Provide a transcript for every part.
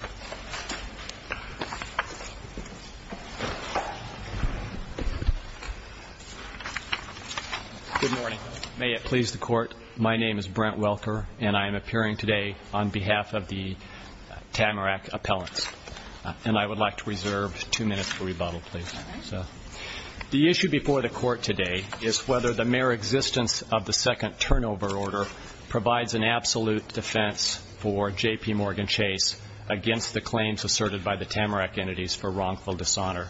Good morning. May it please the Court, my name is Brent Welker, and I am appearing today on behalf of the Tamarack appellants. And I would like to reserve two minutes for rebuttal, please. The issue before the Court today is whether the mere existence of the second turnover order provides an absolute defense for J.P. Morgan Chase against the claims asserted by the Tamarack entities for wrongful dishonor.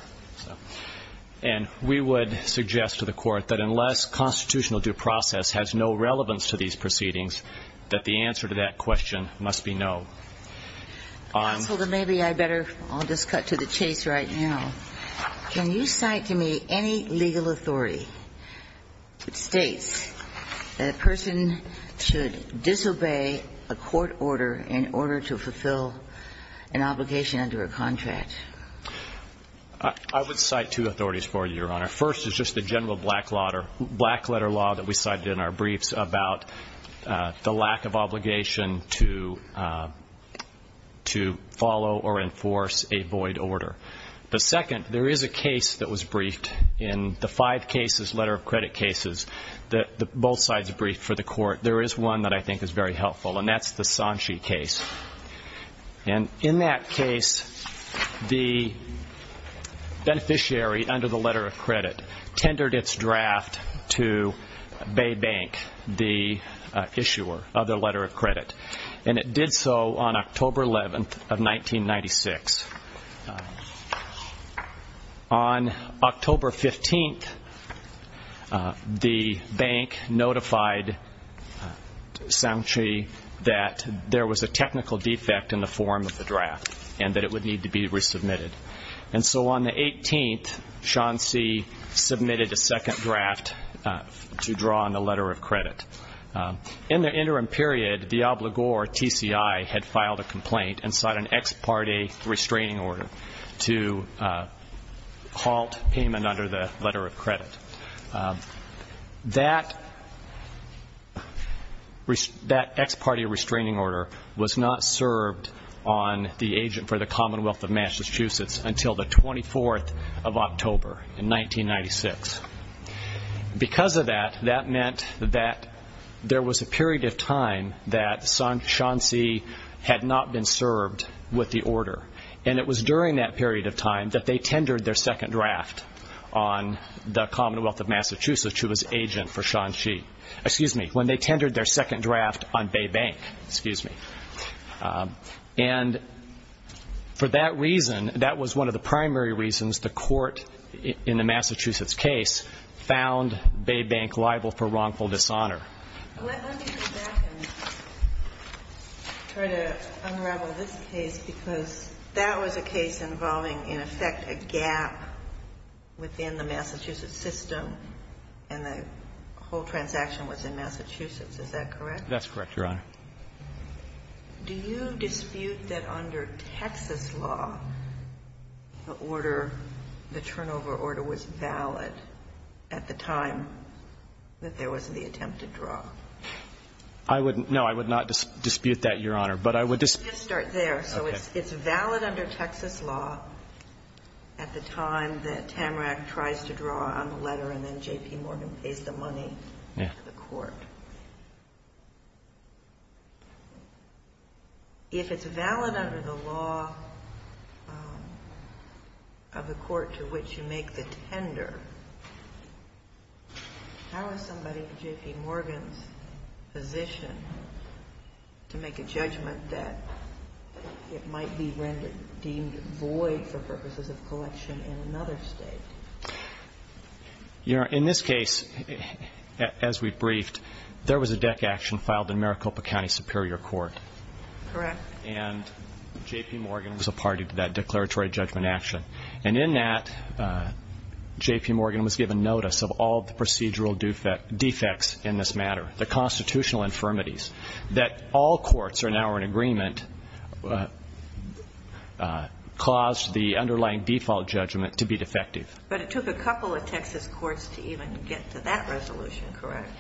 And we would suggest to the Court that unless constitutional due process has no relevance to these proceedings, that the answer to that question must be no. Counsel, then maybe I better, I'll just cut to the chase right now. Can you cite to me any legal authority that states that a person should disobey a court order in order to fulfill an obligation under a contract? I would cite two authorities for you, Your Honor. First is just the general black letter law that we cited in our briefs about the lack of obligation to follow or enforce a void order. But second, there is a case that was briefed in the five cases, letter of credit cases, that both sides briefed for the Court. There is one that I think is very helpful, and that's the Sanchi case. And in that case, the beneficiary under the letter of credit tendered its draft to Bay Bank, the issuer of the letter of credit. And it did so on October 11th of 1996. On October 15th, the bank notified Sanchi that there was a technical defect in the form of the draft and that it would need to be resubmitted. And so on the 18th, Shanxi submitted a second draft to draw on the letter of credit. In the interim period, Diablo Gore, TCI, had filed a complaint and sought an ex parte restraining order to halt payment under the letter of credit. That ex parte restraining order was not served on the agent for the Commonwealth of Massachusetts until the 24th of October in 1996. Because of that, that meant that there was a period of time that Sanchi had not been served with the order. And it was during that period of time that they tendered their second draft on the Commonwealth of Massachusetts, who was agent for Sanchi, excuse me, when they tendered their second draft on Bay Bank, excuse me. And for that reason, that was one of the primary reasons the court in the Massachusetts case found Bay Bank liable for wrongful dishonor. Let me go back and try to unravel this case, because that was a case involving, in effect, a gap within the Massachusetts system, and the whole transaction was in Massachusetts. Is that correct? That's correct, Your Honor. Do you dispute that under Texas law, the order, the turnover order was valid at the time that there was the attempt to draw? I wouldn't. No, I would not dispute that, Your Honor. But I would dispute Just start there. Okay. So it's valid under Texas law at the time that Tamrack tries to draw on the letter to the court. If it's valid under the law of the court to which you make the tender, how is somebody, J.P. Morgan's, position to make a judgment that it might be deemed void for purposes of collection in another state? Your Honor, in this case, as we briefed, there was a deck action filed in Maricopa County Superior Court. Correct. And J.P. Morgan was a party to that declaratory judgment action. And in that, J.P. Morgan was given notice of all the procedural defects in this matter, the constitutional infirmities, that all courts are now in agreement caused the underlying default judgment to be defective. But it took a couple of Texas courts to even get to that resolution, correct?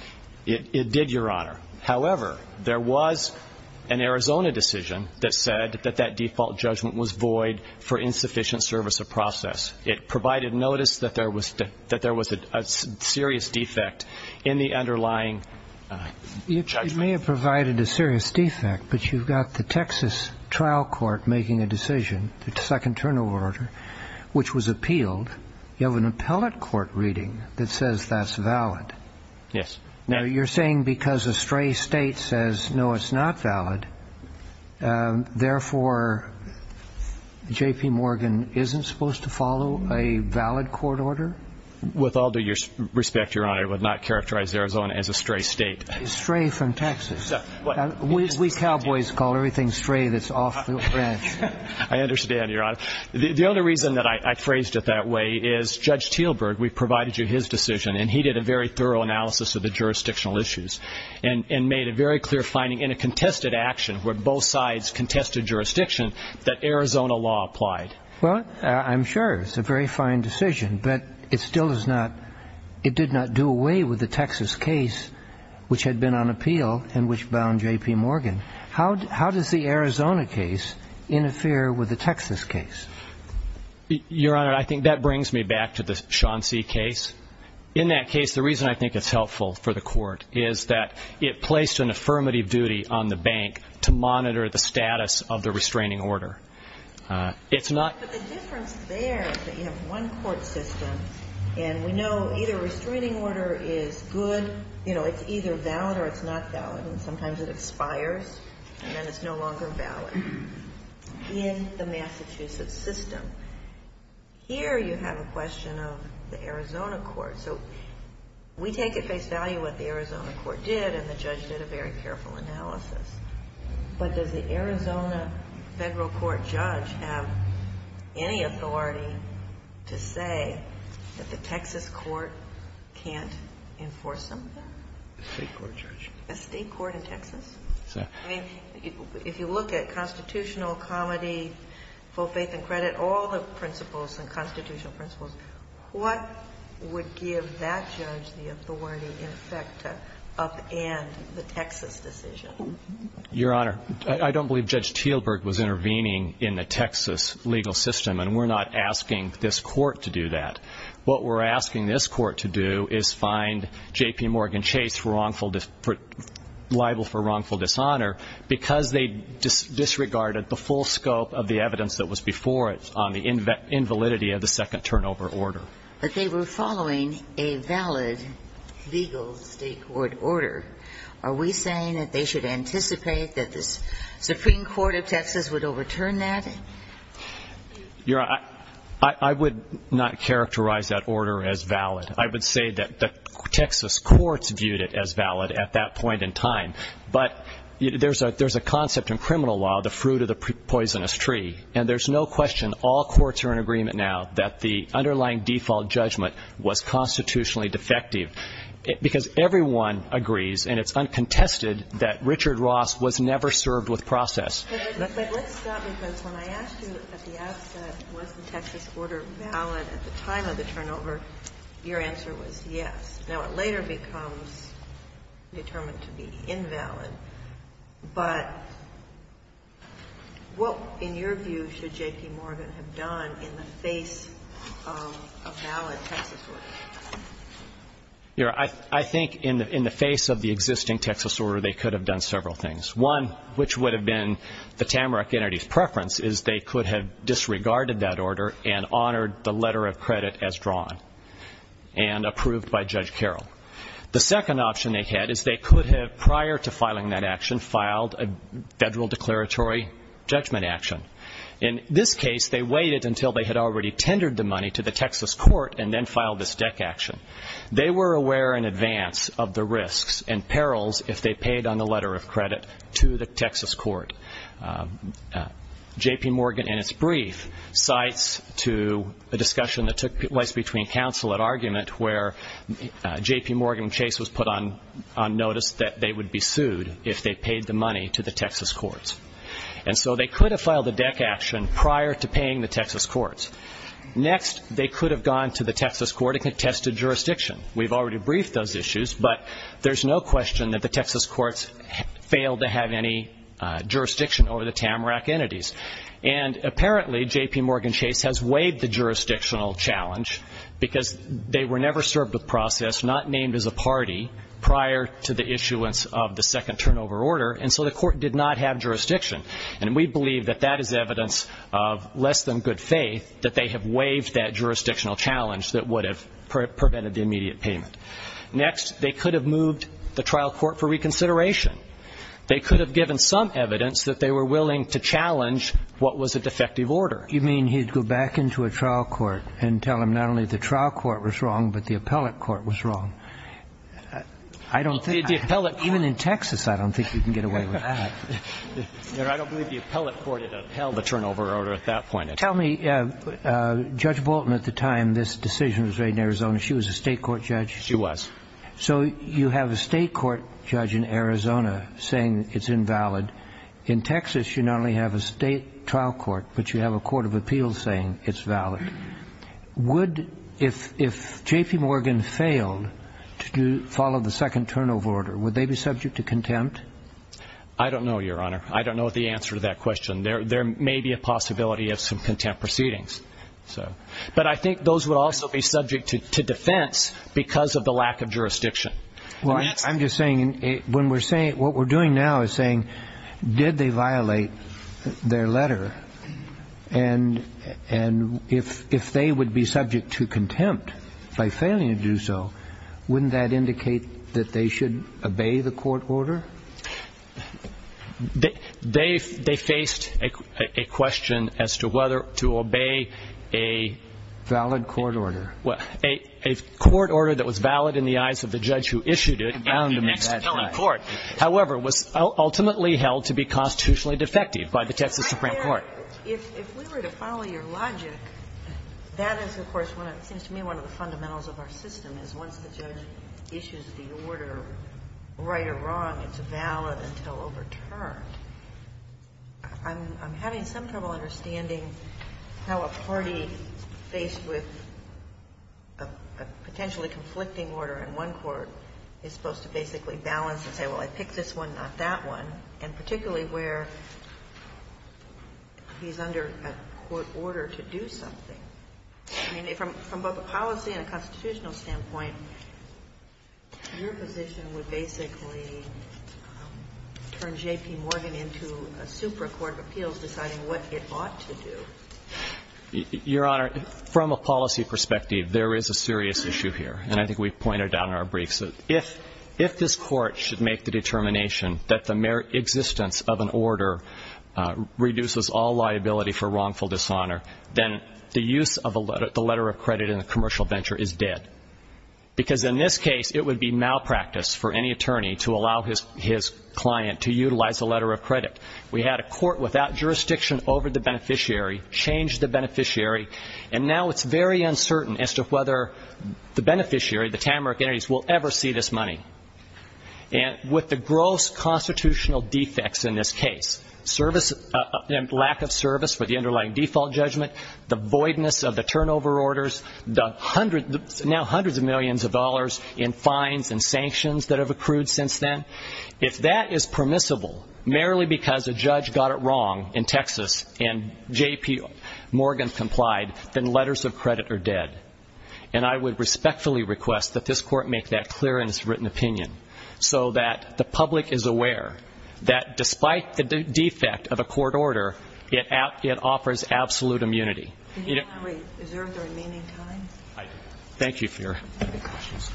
It did, Your Honor. However, there was an Arizona decision that said that that default judgment was void for insufficient service of process. It provided notice that there was a serious defect in the underlying judgment. You may have provided a serious defect, but you've got the Texas trial court making a decision, the second turnover order, which was appealed. You have an appellate court reading that says that's valid. Yes. Now, you're saying because a stray state says, no, it's not valid, therefore, J.P. Morgan isn't supposed to follow a valid court order? With all due respect, Your Honor, I would not characterize Arizona as a stray state. Stray from Texas. We cowboys call everything stray that's off the ranch. I understand, Your Honor. The only reason that I phrased it that way is Judge Teelburg, we provided you his decision, and he did a very thorough analysis of the jurisdictional issues and made a very clear finding in a contested action where both sides contested jurisdiction that Arizona law applied. Well, I'm sure it's a very fine decision, but it still does not, it did not do away with the Texas case which had been on appeal and which bound J.P. Morgan. How does the Arizona case interfere with the Texas case? Your Honor, I think that brings me back to the Shaughnessy case. In that case, the reason I think it's helpful for the court is that it placed an affirmative duty on the bank to monitor the status of the restraining order. It's not... But the difference there is that you have one court system, and we know either a restraining order is good, you know, it's either valid or it's not valid, and sometimes it expires, and then it's no longer valid in the Massachusetts system. Here you have a question of the Arizona court, so we take at face value what the Arizona court did, and the judge did a very careful analysis, but does the Arizona federal court judge have any authority to say that the Texas court can't enforce something? A state court judge. A state court in Texas? Yes. I mean, if you look at constitutional, comedy, full faith and credit, all the principles and constitutional principles, what would give that judge the authority, in effect, to upend the Texas decision? Your Honor, I don't believe Judge Teelberg was intervening in the Texas legal system, and we're not asking this court to do that. What we're asking this court to do is find JPMorgan Chase liable for wrongful dishonor because they disregarded the full scope of the evidence that was before it on the invalidity of the second turnover order. But they were following a valid legal state court order. Are we saying that they should anticipate that the Supreme Court of Texas would overturn that? Your Honor, I would not characterize that order as valid. I would say that the Texas courts viewed it as valid at that point in time, but there's a concept in criminal law, the fruit of the poisonous tree, and there's no question all courts are in agreement now that the underlying default judgment was constitutionally defective, because everyone agrees, and it's uncontested, that Richard Ross was never served with process. But let's stop, because when I asked you at the outset, was the Texas order valid at the time of the turnover, your answer was yes. Now, it later becomes determined to be invalid, but what, in your view, should JPMorgan have done in the face of the invalid Texas order? Your Honor, I think in the face of the existing Texas order, they could have done several things. One, which would have been the Tamarack entity's preference, is they could have disregarded that order and honored the letter of credit as drawn and approved by Judge Carroll. The second option they had is they could have, prior to filing that action, filed a federal declaratory judgment action. In this case, they waited until they had already tendered the money to the Texas court and then filed this deck action. They were aware in advance of the risks and perils if they paid on the letter of credit to the Texas court. JPMorgan, in its brief, cites to a discussion that took place between counsel at argument where JPMorgan and Chase was put on notice that they would be sued if they paid the money to the Texas courts. And so they could have filed the deck action prior to paying the Texas courts. Next, they could have gone to the Texas court and contested jurisdiction. We've already briefed those issues, but there's no question that the Texas courts failed to have any jurisdiction over the Tamarack entities. And apparently, JPMorgan Chase has waived the jurisdictional challenge because they were never served with process, not named as a party, prior to the issuance of the second turnover order, and so the court did not have of less than good faith that they have waived that jurisdictional challenge that would have prevented the immediate payment. Next, they could have moved the trial court for reconsideration. They could have given some evidence that they were willing to challenge what was a defective order. You mean he'd go back into a trial court and tell them not only the trial court was wrong, but the appellate court was wrong? I don't think the appellate court. Even in Texas, I don't think you can get away with that. I don't believe the appellate court held the turnover order at that point. Tell me, Judge Bolton, at the time this decision was made in Arizona, she was a state court judge? She was. So you have a state court judge in Arizona saying it's invalid. In Texas, you not only have a state trial court, but you have a court of appeals saying it's valid. Would, if JPMorgan failed to follow the second turnover order, would they be subject to contempt? I don't know, Your Honor. I don't know the answer to that question. There may be a possibility of some contempt proceedings. But I think those would also be subject to defense because of the lack of jurisdiction. I'm just saying, what we're doing now is saying, did they violate their letter? And if they would be subject to contempt by failing to do so, wouldn't that indicate that they should obey the court order? They faced a question as to whether to obey a... Valid court order. A court order that was valid in the eyes of the judge who issued it. And bound him to that court. However, was ultimately held to be constitutionally defective by the Texas Supreme Court. If we were to follow your logic, that is, of course, seems to me one of the fundamentals of our system is once the judge issues the order, right or wrong, it's valid until overturned. I'm having some trouble understanding how a party faced with a potentially conflicting order in one court is supposed to basically balance and say, well, I picked this one, not that one, and particularly where he's under a court order to do something. I mean, from both a policy and a constitutional standpoint, your position would basically turn J.P. Morgan into a super court of appeals deciding what it ought to do. Your Honor, from a policy perspective, there is a serious issue here. And I think we've pointed out in our briefs that if this court should make the determination that the mere existence of an order reduces all liability for wrongful dishonor, then the use of the letter of credit in a commercial venture is dead. Because in this case, it would be malpractice for any attorney to allow his client to utilize the letter of credit. We had a court without jurisdiction over the beneficiary, changed the beneficiary, and now it's very uncertain as to whether the beneficiary, the Tamarack Entities, will ever see this money. And with the gross constitutional defects in this case, lack of service for the underlying default judgment, the voidness of the turnover orders, now hundreds of millions of dollars in fines and sanctions that have accrued since then, if that is permissible merely because a judge got it wrong in Texas and J.P. Morgan complied, then letters of credit are dead. And I would respectfully request that this court make that clear in its written opinion so that the public is aware that despite the defect of a court order, it offers absolute immunity. Did you want to reserve the remaining time? I did. Thank you for your questions.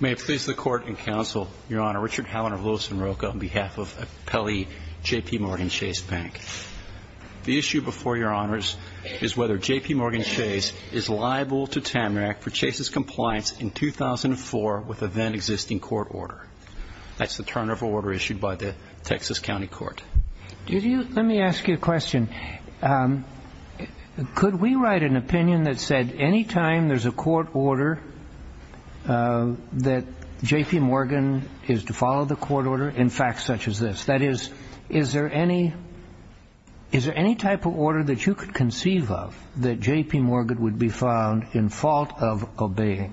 May it please the Court and Counsel, Your Honor, Richard Howland of Lewis and Rocha, on behalf of Appellee J.P. Morgan Chase Bank. The issue before Your Honors is whether J.P. Morgan Chase is liable to Tamarack for Chase's compliance in 2004 with a then-existing court order. That's the turnover order issued by the Texas County Court. Let me ask you a question. Could we write an opinion that said any time there's a court order that J.P. Morgan is to follow the court order in facts such as this, that is, is there any type of order that you could conceive of that J.P. Morgan would be found in fault of obeying?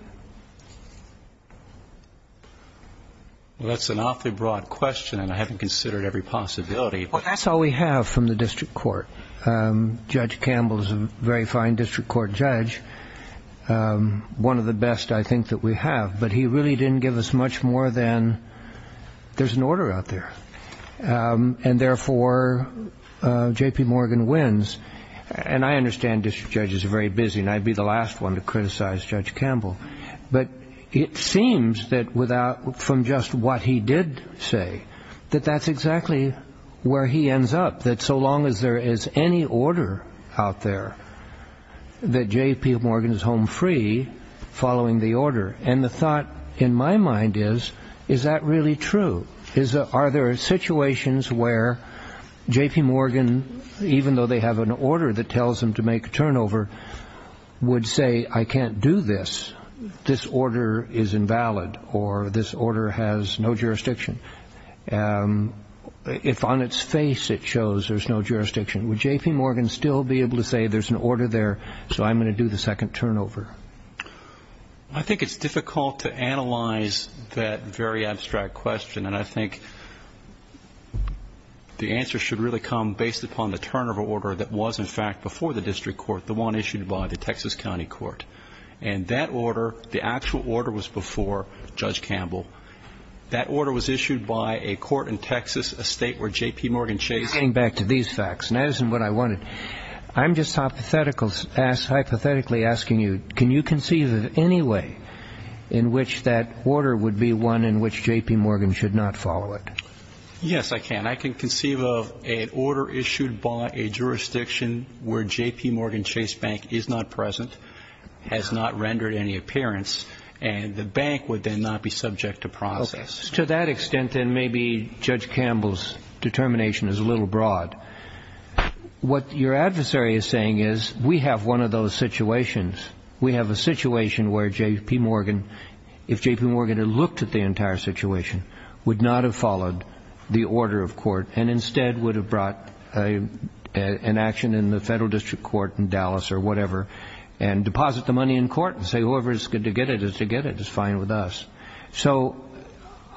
Well, that's an awfully broad question, and I haven't considered every possibility. Well, that's all we have from the district court. Judge Campbell is a very fine district court judge, one of the best, I think, that we have. But he really didn't give us much more than there's an order out there, and therefore J.P. Morgan wins. And I understand district judges are very busy, and I'd be the last one to criticize Judge Campbell. But it seems that from just what he did say, that that's exactly where he ends up, that so long as there is any order out there, that J.P. Morgan is home free following the order. And the thought in my mind is, is that really true? Are there situations where J.P. Morgan, even though they have an order that tells him to make a turnover, would say, I can't do this, this order is invalid, or this order has no jurisdiction? If on its face it shows there's no jurisdiction, would J.P. Morgan still be able to say, there's an order there, so I'm going to do the second turnover? I think it's difficult to analyze that very abstract question, and I think the answer should really come based upon the turnover order that was, in fact, before the district court, the one issued by the Texas County Court. And that order, the actual order was before Judge Campbell. That order was issued by a court in Texas, a state where J.P. Morgan chased... Getting back to these facts, and that isn't what I wanted, I'm just hypothetically asking you, can you conceive of any way in which that order would be one in which J.P. Morgan should not follow it? Yes, I can. I can conceive of an order issued by a jurisdiction where J.P. Morgan chased bank is not present, has not rendered any appearance, and the bank would then not be subject to process. To that extent, then, maybe Judge Campbell's determination is a little broad. What your adversary is saying is, we have one of those situations. We have a situation where J.P. Morgan, if J.P. Morgan had looked at the entire situation, would not have followed the order of court and instead would have brought an action in the federal district court in Dallas or whatever and deposit the money in court and say, whoever is going to get it is to get it. It's fine with us. So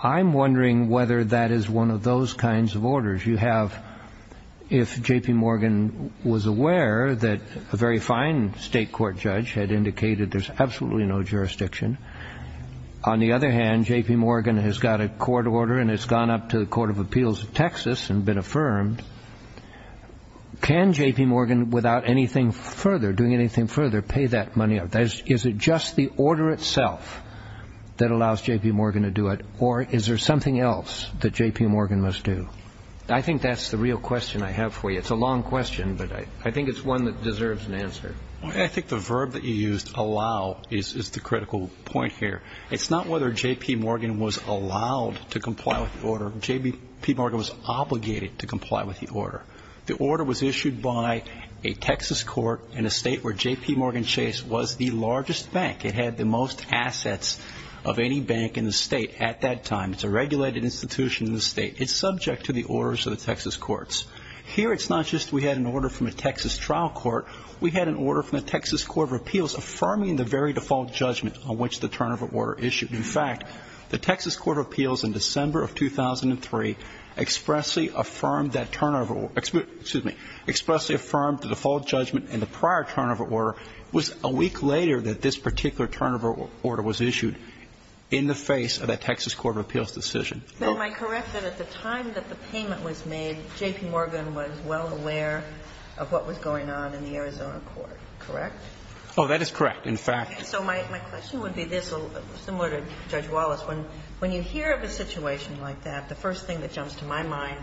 I'm wondering whether that is one of those kinds of orders you have if J.P. Morgan was aware that a very fine state court judge had indicated there's absolutely no jurisdiction. On the other hand, J.P. Morgan has got a court order and has gone up to the Court of Appeals of Texas and been affirmed. Can J.P. Morgan, without anything further, doing anything further, pay that money out? Is it just the order itself that allows J.P. Morgan to do it, or is there something else that J.P. Morgan must do? I think that's the real question I have for you. It's a long question, but I think it's one that deserves an answer. I think the verb that you used, allow, is the critical point here. It's not whether J.P. Morgan was allowed to comply with the order. J.P. Morgan was obligated to comply with the order. The order was issued by a Texas court in a state where J.P. Morgan Chase was the largest bank. It had the most assets of any bank in the state at that time. It's a regulated institution in the state. It's subject to the orders of the Texas courts. Here it's not just we had an order from a Texas trial court. We had an order from the Texas Court of Appeals affirming the very default judgment on which the turnover order issued. In fact, the Texas Court of Appeals in December of 2003 expressly affirmed that turnover or, excuse me, expressly affirmed the default judgment in the prior turnover order. It was a week later that this particular turnover order was issued in the face of that Texas Court of Appeals decision. So am I correct that at the time that the payment was made, J.P. Morgan was well above the Arizona court, correct? Oh, that is correct, in fact. So my question would be this, similar to Judge Wallace. When you hear of a situation like that, the first thing that jumps to my mind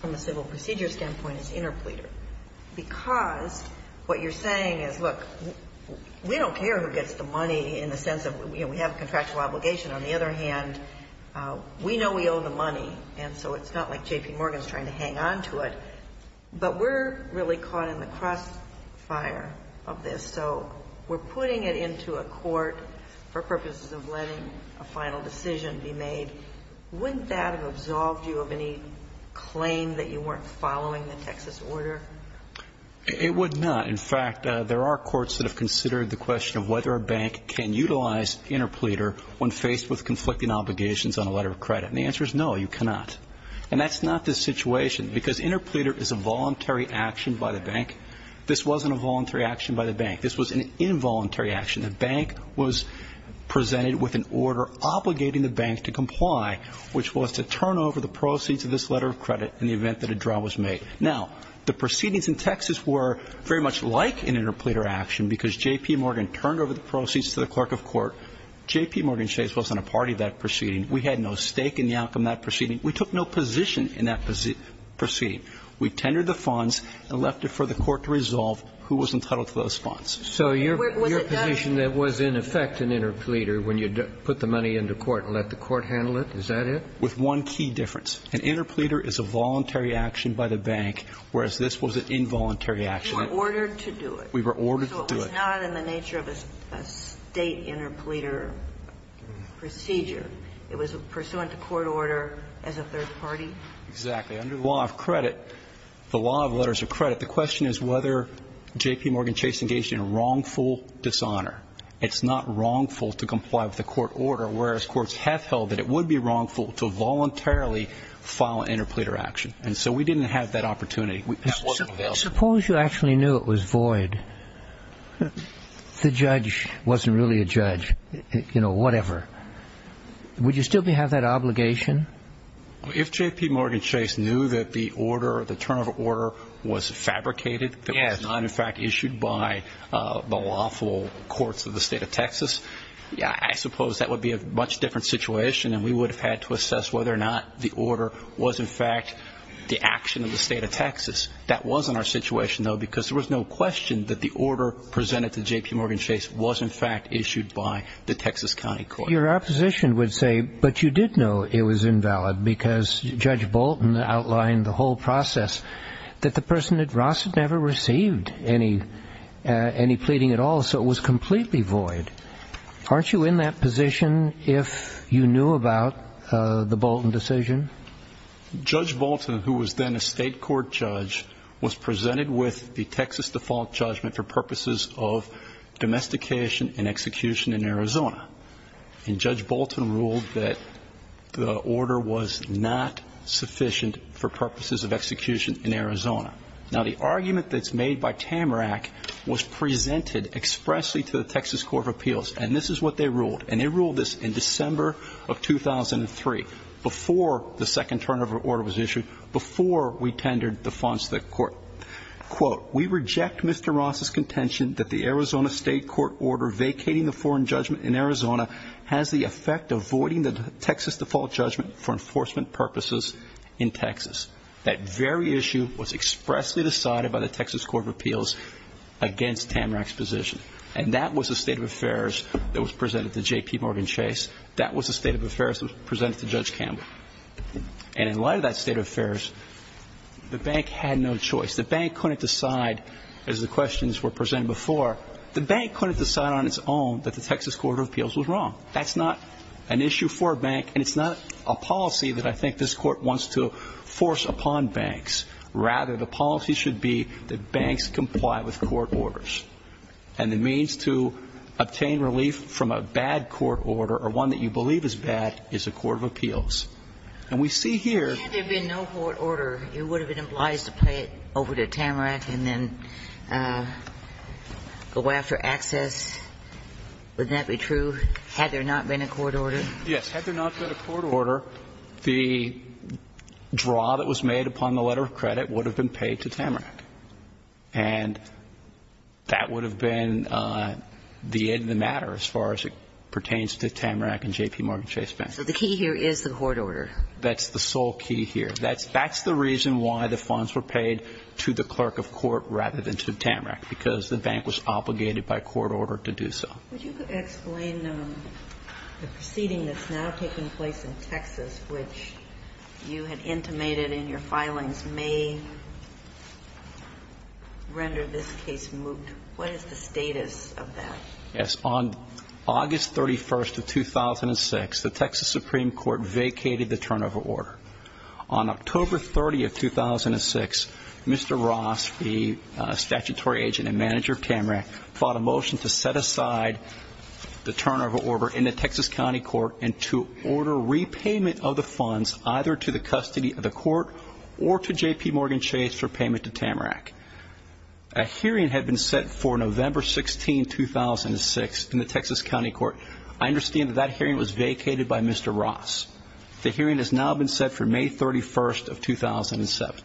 from a civil procedure standpoint is interpleader, because what you're saying is, look, we don't care who gets the money in the sense of, you know, we have a contractual obligation. On the other hand, we know we owe the money, and so it's not like J.P. Morgan's trying to hang on to it. But we're really caught in the crossfire of this. So we're putting it into a court for purposes of letting a final decision be made. Wouldn't that have absolved you of any claim that you weren't following the Texas order? It would not. In fact, there are courts that have considered the question of whether a bank can utilize interpleader when faced with conflicting obligations on a letter of credit. And the answer is no, you cannot. And that's not the situation, because interpleader is a voluntary action by the bank. This wasn't a voluntary action by the bank. This was an involuntary action. The bank was presented with an order obligating the bank to comply, which was to turn over the proceeds of this letter of credit in the event that a draw was made. Now, the proceedings in Texas were very much like an interpleader action, because J.P. Morgan turned over the proceeds to the clerk of court. J.P. Morgan Chase wasn't a party to that proceeding. We had no stake in the outcome of that proceeding. We took no position in that proceeding. We tendered the funds and left it for the court to resolve who was entitled to those funds. So your position that was in effect an interpleader when you put the money in the court and let the court handle it, is that it? With one key difference. An interpleader is a voluntary action by the bank, whereas this was an involuntary action. We were ordered to do it. We were ordered to do it. So it was not in the nature of a State interpleader procedure. It was pursuant to court order as a third party. Exactly. Under the law of credit, the law of letters of credit, the question is whether J.P. Morgan Chase engaged in a wrongful dishonor. It's not wrongful to comply with the court order, whereas courts have held that it would be wrongful to voluntarily file an interpleader action. And so we didn't have that opportunity. That wasn't available. Suppose you actually knew it was void. The judge wasn't really a judge. You know, whatever. Would you still have that obligation? If J.P. Morgan Chase knew that the order, the turn of order was fabricated, that it was not, in fact, issued by the lawful courts of the State of Texas, I suppose that would be a much different situation and we would have had to assess whether or not the order was, in fact, the action of the State of Texas. That wasn't our situation, though, because there was no question that the order presented to J.P. Morgan Chase was, in fact, issued by the Texas County Court. Your opposition would say, but you did know it was invalid because Judge Bolton outlined the whole process, that the person at Ross had never received any pleading at all, so it was completely void. Aren't you in that position if you knew about the Bolton decision? Judge Bolton, who was then a state court judge, was presented with the Texas default judgment for purposes of domestication and execution in Arizona, and Judge Bolton ruled that the order was not sufficient for purposes of execution in Arizona. Now, the argument that's made by Tamarack was presented expressly to the Texas Court of Appeals, and this is what they ruled, and they ruled this in December of 2003, before the second turn of order was issued, before we tendered the funds to the court. Quote, we reject Mr. Ross's contention that the Arizona state court order vacating the foreign judgment in Arizona has the effect of voiding the Texas default judgment for enforcement purposes in Texas. That very issue was expressly decided by the Texas Court of Appeals against Tamarack's position, and that was the state of affairs that was presented to J.P. Morgan Chase. That was the state of affairs that was presented to Judge Campbell. And in light of that state of affairs, the bank had no choice. The bank couldn't decide, as the questions were presented before, the bank couldn't decide on its own that the Texas Court of Appeals was wrong. That's not an issue for a bank, and it's not a policy that I think this court wants to force upon banks. Rather, the policy should be that banks comply with court orders, and the means to obtain relief from a bad court order, or one that you believe is bad, is a court of appeals. And we see here. If there had been no court order, it would have been obliged to pay it over to Tamarack and then go after access. Wouldn't that be true, had there not been a court order? Yes. Had there not been a court order, the draw that was made upon the letter of credit would have been paid to Tamarack. And that would have been the end of the matter as far as it pertains to Tamarack and JPMorgan Chase Bank. So the key here is the court order. That's the sole key here. That's the reason why the funds were paid to the clerk of court rather than to Tamarack, because the bank was obligated by court order to do so. Would you explain the proceeding that's now taking place in Texas, which you had intimated in your filings may render this case moot? What is the status of that? Yes. On August 31st of 2006, the Texas Supreme Court vacated the turnover order. On October 30th, 2006, Mr. Ross, the statutory agent and manager of Tamarack, fought a motion to set aside the turnover order in the Texas County Court and to order repayment of the funds either to the custody of the court or to JPMorgan Chase for payment to Tamarack. A hearing had been set for November 16, 2006, in the Texas County Court. I understand that that hearing was vacated by Mr. Ross. The hearing has now been set for May 31st of 2007. And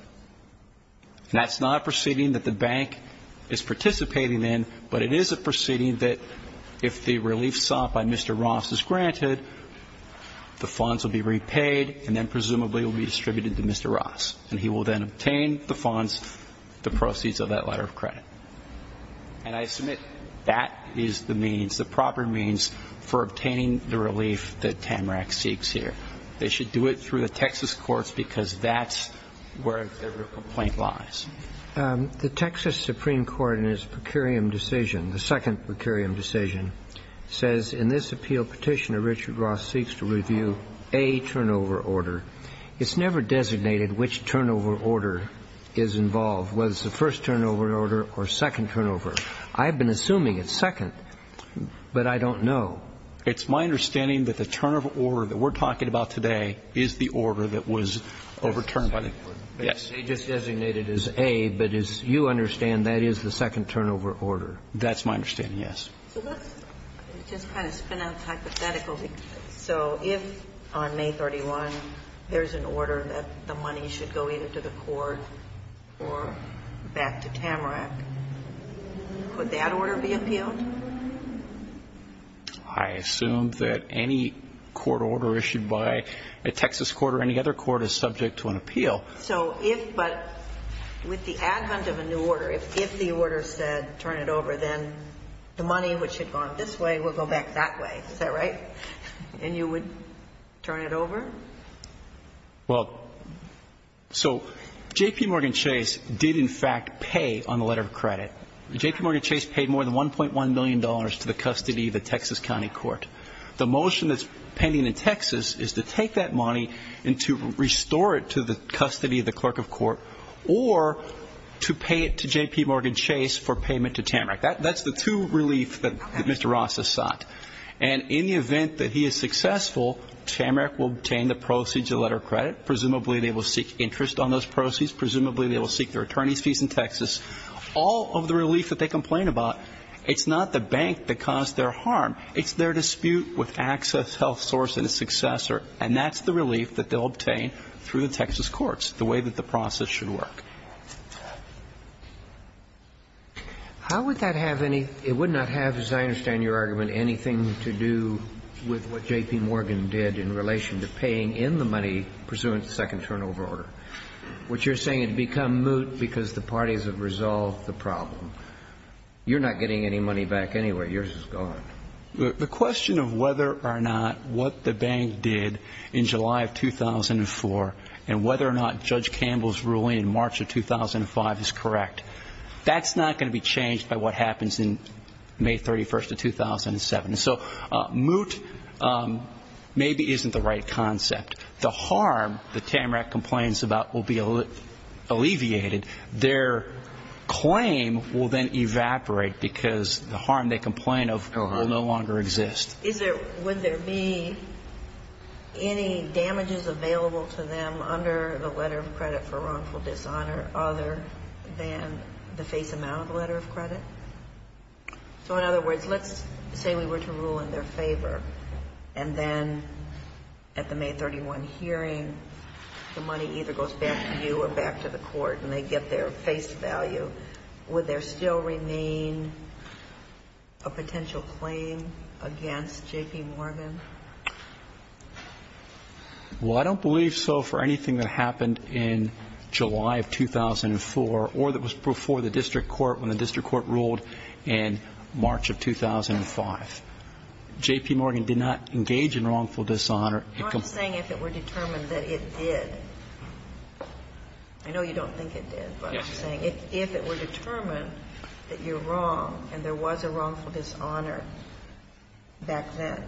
that's not a proceeding that the bank is participating in, but it is a proceeding that if the relief sought by Mr. Ross is granted, the funds will be repaid and then presumably will be distributed to Mr. Ross. And he will then obtain the funds, the proceeds of that letter of credit. And I submit that is the means, the proper means for obtaining the relief that Tamarack seeks here. They should do it through the Texas courts because that's where their real complaint lies. The Texas Supreme Court in its per curiam decision, the second per curiam decision, says in this appeal, Petitioner Richard Ross seeks to review a turnover order. It's never designated which turnover order is involved, whether it's the first turnover order or second turnover. I've been assuming it's second, but I don't know. It's my understanding that the turnover order that we're talking about today is the order that was overturned. Yes. They just designated it as A, but as you understand, that is the second turnover order. That's my understanding, yes. So let's just kind of spin out hypothetically. So if on May 31 there's an order that the money should go either to the court or back to Tamarack, would that order be appealed? I assume that any court order issued by a Texas court or any other court is subject to an appeal. So if but with the ad hunt of a new order, if the order said turn it over, then the money which had gone this way will go back that way. Is that right? And you would turn it over? Well, so J.P. Morgan Chase did in fact pay on the letter of credit. J.P. Morgan Chase paid more than $1.1 million to the custody of the Texas County Court. The motion that's pending in Texas is to take that money and to restore it to the custody of the clerk of court or to pay it to J.P. Morgan Chase for payment to Tamarack. That's the two relief that Mr. Ross has sought. And in the event that he is successful, Tamarack will obtain the proceeds of the letter of credit. Presumably they will seek interest on those proceeds. Presumably they will seek their attorney's fees in Texas. All of the relief that they complain about, it's not the bank that caused their harm. It's their dispute with Access Health Source and its successor, and that's the way that the process should work. How would that have any ñ it would not have, as I understand your argument, anything to do with what J.P. Morgan did in relation to paying in the money pursuant to the second turnover order, which you're saying had become moot because the parties have resolved the problem. You're not getting any money back anyway. Yours is gone. The question of whether or not what the bank did in July of 2004 and whether or not Judge Campbell's ruling in March of 2005 is correct, that's not going to be changed by what happens in May 31st of 2007. So moot maybe isn't the right concept. The harm that Tamarack complains about will be alleviated. Their claim will then evaporate because the harm they complain of will no longer exist. Would there be any damages available to them under the letter of credit for wrongful dishonor other than the face amount of the letter of credit? So in other words, let's say we were to rule in their favor and then at the May 31 hearing the money either goes back to you or back to the court and they get their face value. Would there still remain a potential claim against J.P. Morgan? Well, I don't believe so for anything that happened in July of 2004 or that was before the district court when the district court ruled in March of 2005. J.P. Morgan did not engage in wrongful dishonor. I'm not saying if it were determined that it did. I know you don't think it did. Yes. I'm just saying if it were determined that you're wrong and there was a wrongful dishonor back then,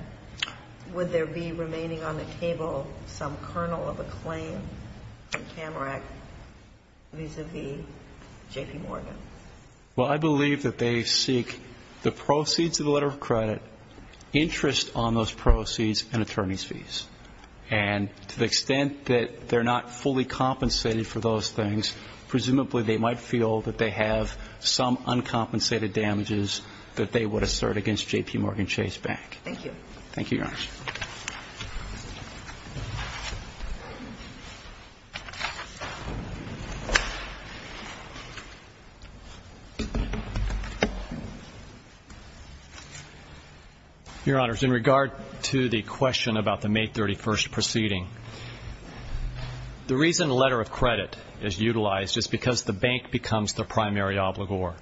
would there be remaining on the table some kernel of a claim for Tamarack vis-à-vis J.P. Morgan? Well, I believe that they seek the proceeds of the letter of credit, interest on those proceeds and attorney's fees. And to the extent that they're not fully compensated for those things, presumably they might feel that they have some uncompensated damages that they would assert against J.P. Morgan Chase Bank. Thank you. Thank you, Your Honor. Your Honors, in regard to the question about the May 31st proceeding, the reason the letter of credit is utilized is because the bank becomes the primary obligor.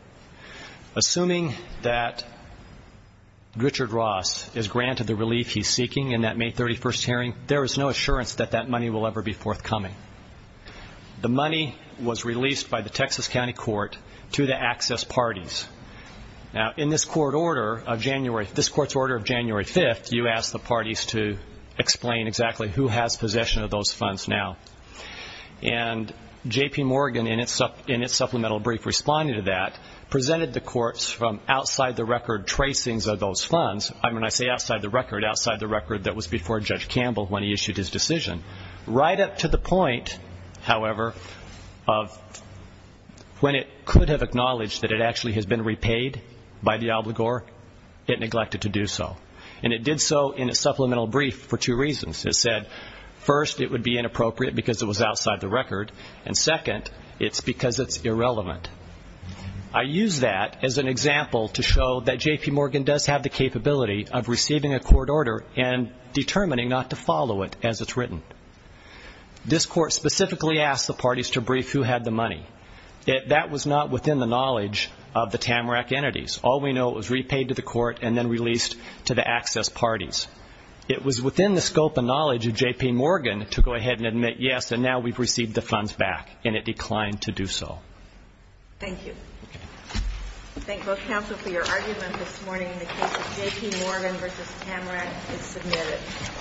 Assuming that Richard Ross is granted the relief he's seeking in that May 31st hearing, there is no assurance that that money will ever be forthcoming. The money was released by the Texas County Court to the access parties. Now, in this court's order of January 5th, you asked the parties to explain exactly who has possession of those funds now. And J.P. Morgan, in its supplemental brief responding to that, presented the courts from outside-the-record tracings of those funds. When I say outside-the-record, outside-the-record that was before Judge Campbell when he issued his decision. Right up to the point, however, of when it could have acknowledged that it actually has been repaid by the obligor, it neglected to do so. And it did so in its supplemental brief for two reasons. It said, first, it would be inappropriate because it was outside-the-record, and second, it's because it's irrelevant. I use that as an example to show that J.P. Morgan does have the capability of receiving a court order and determining not to follow it as it's written. This court specifically asked the parties to brief who had the money. That was not within the knowledge of the TAMRAC entities. All we know, it was repaid to the court and then released to the access parties. It was within the scope and knowledge of J.P. Morgan to go ahead and admit, yes, and now we've received the funds back, and it declined to do so. Thank you. Thank both counsel for your argument this morning. The case of J.P. Morgan v. TAMRAC is submitted.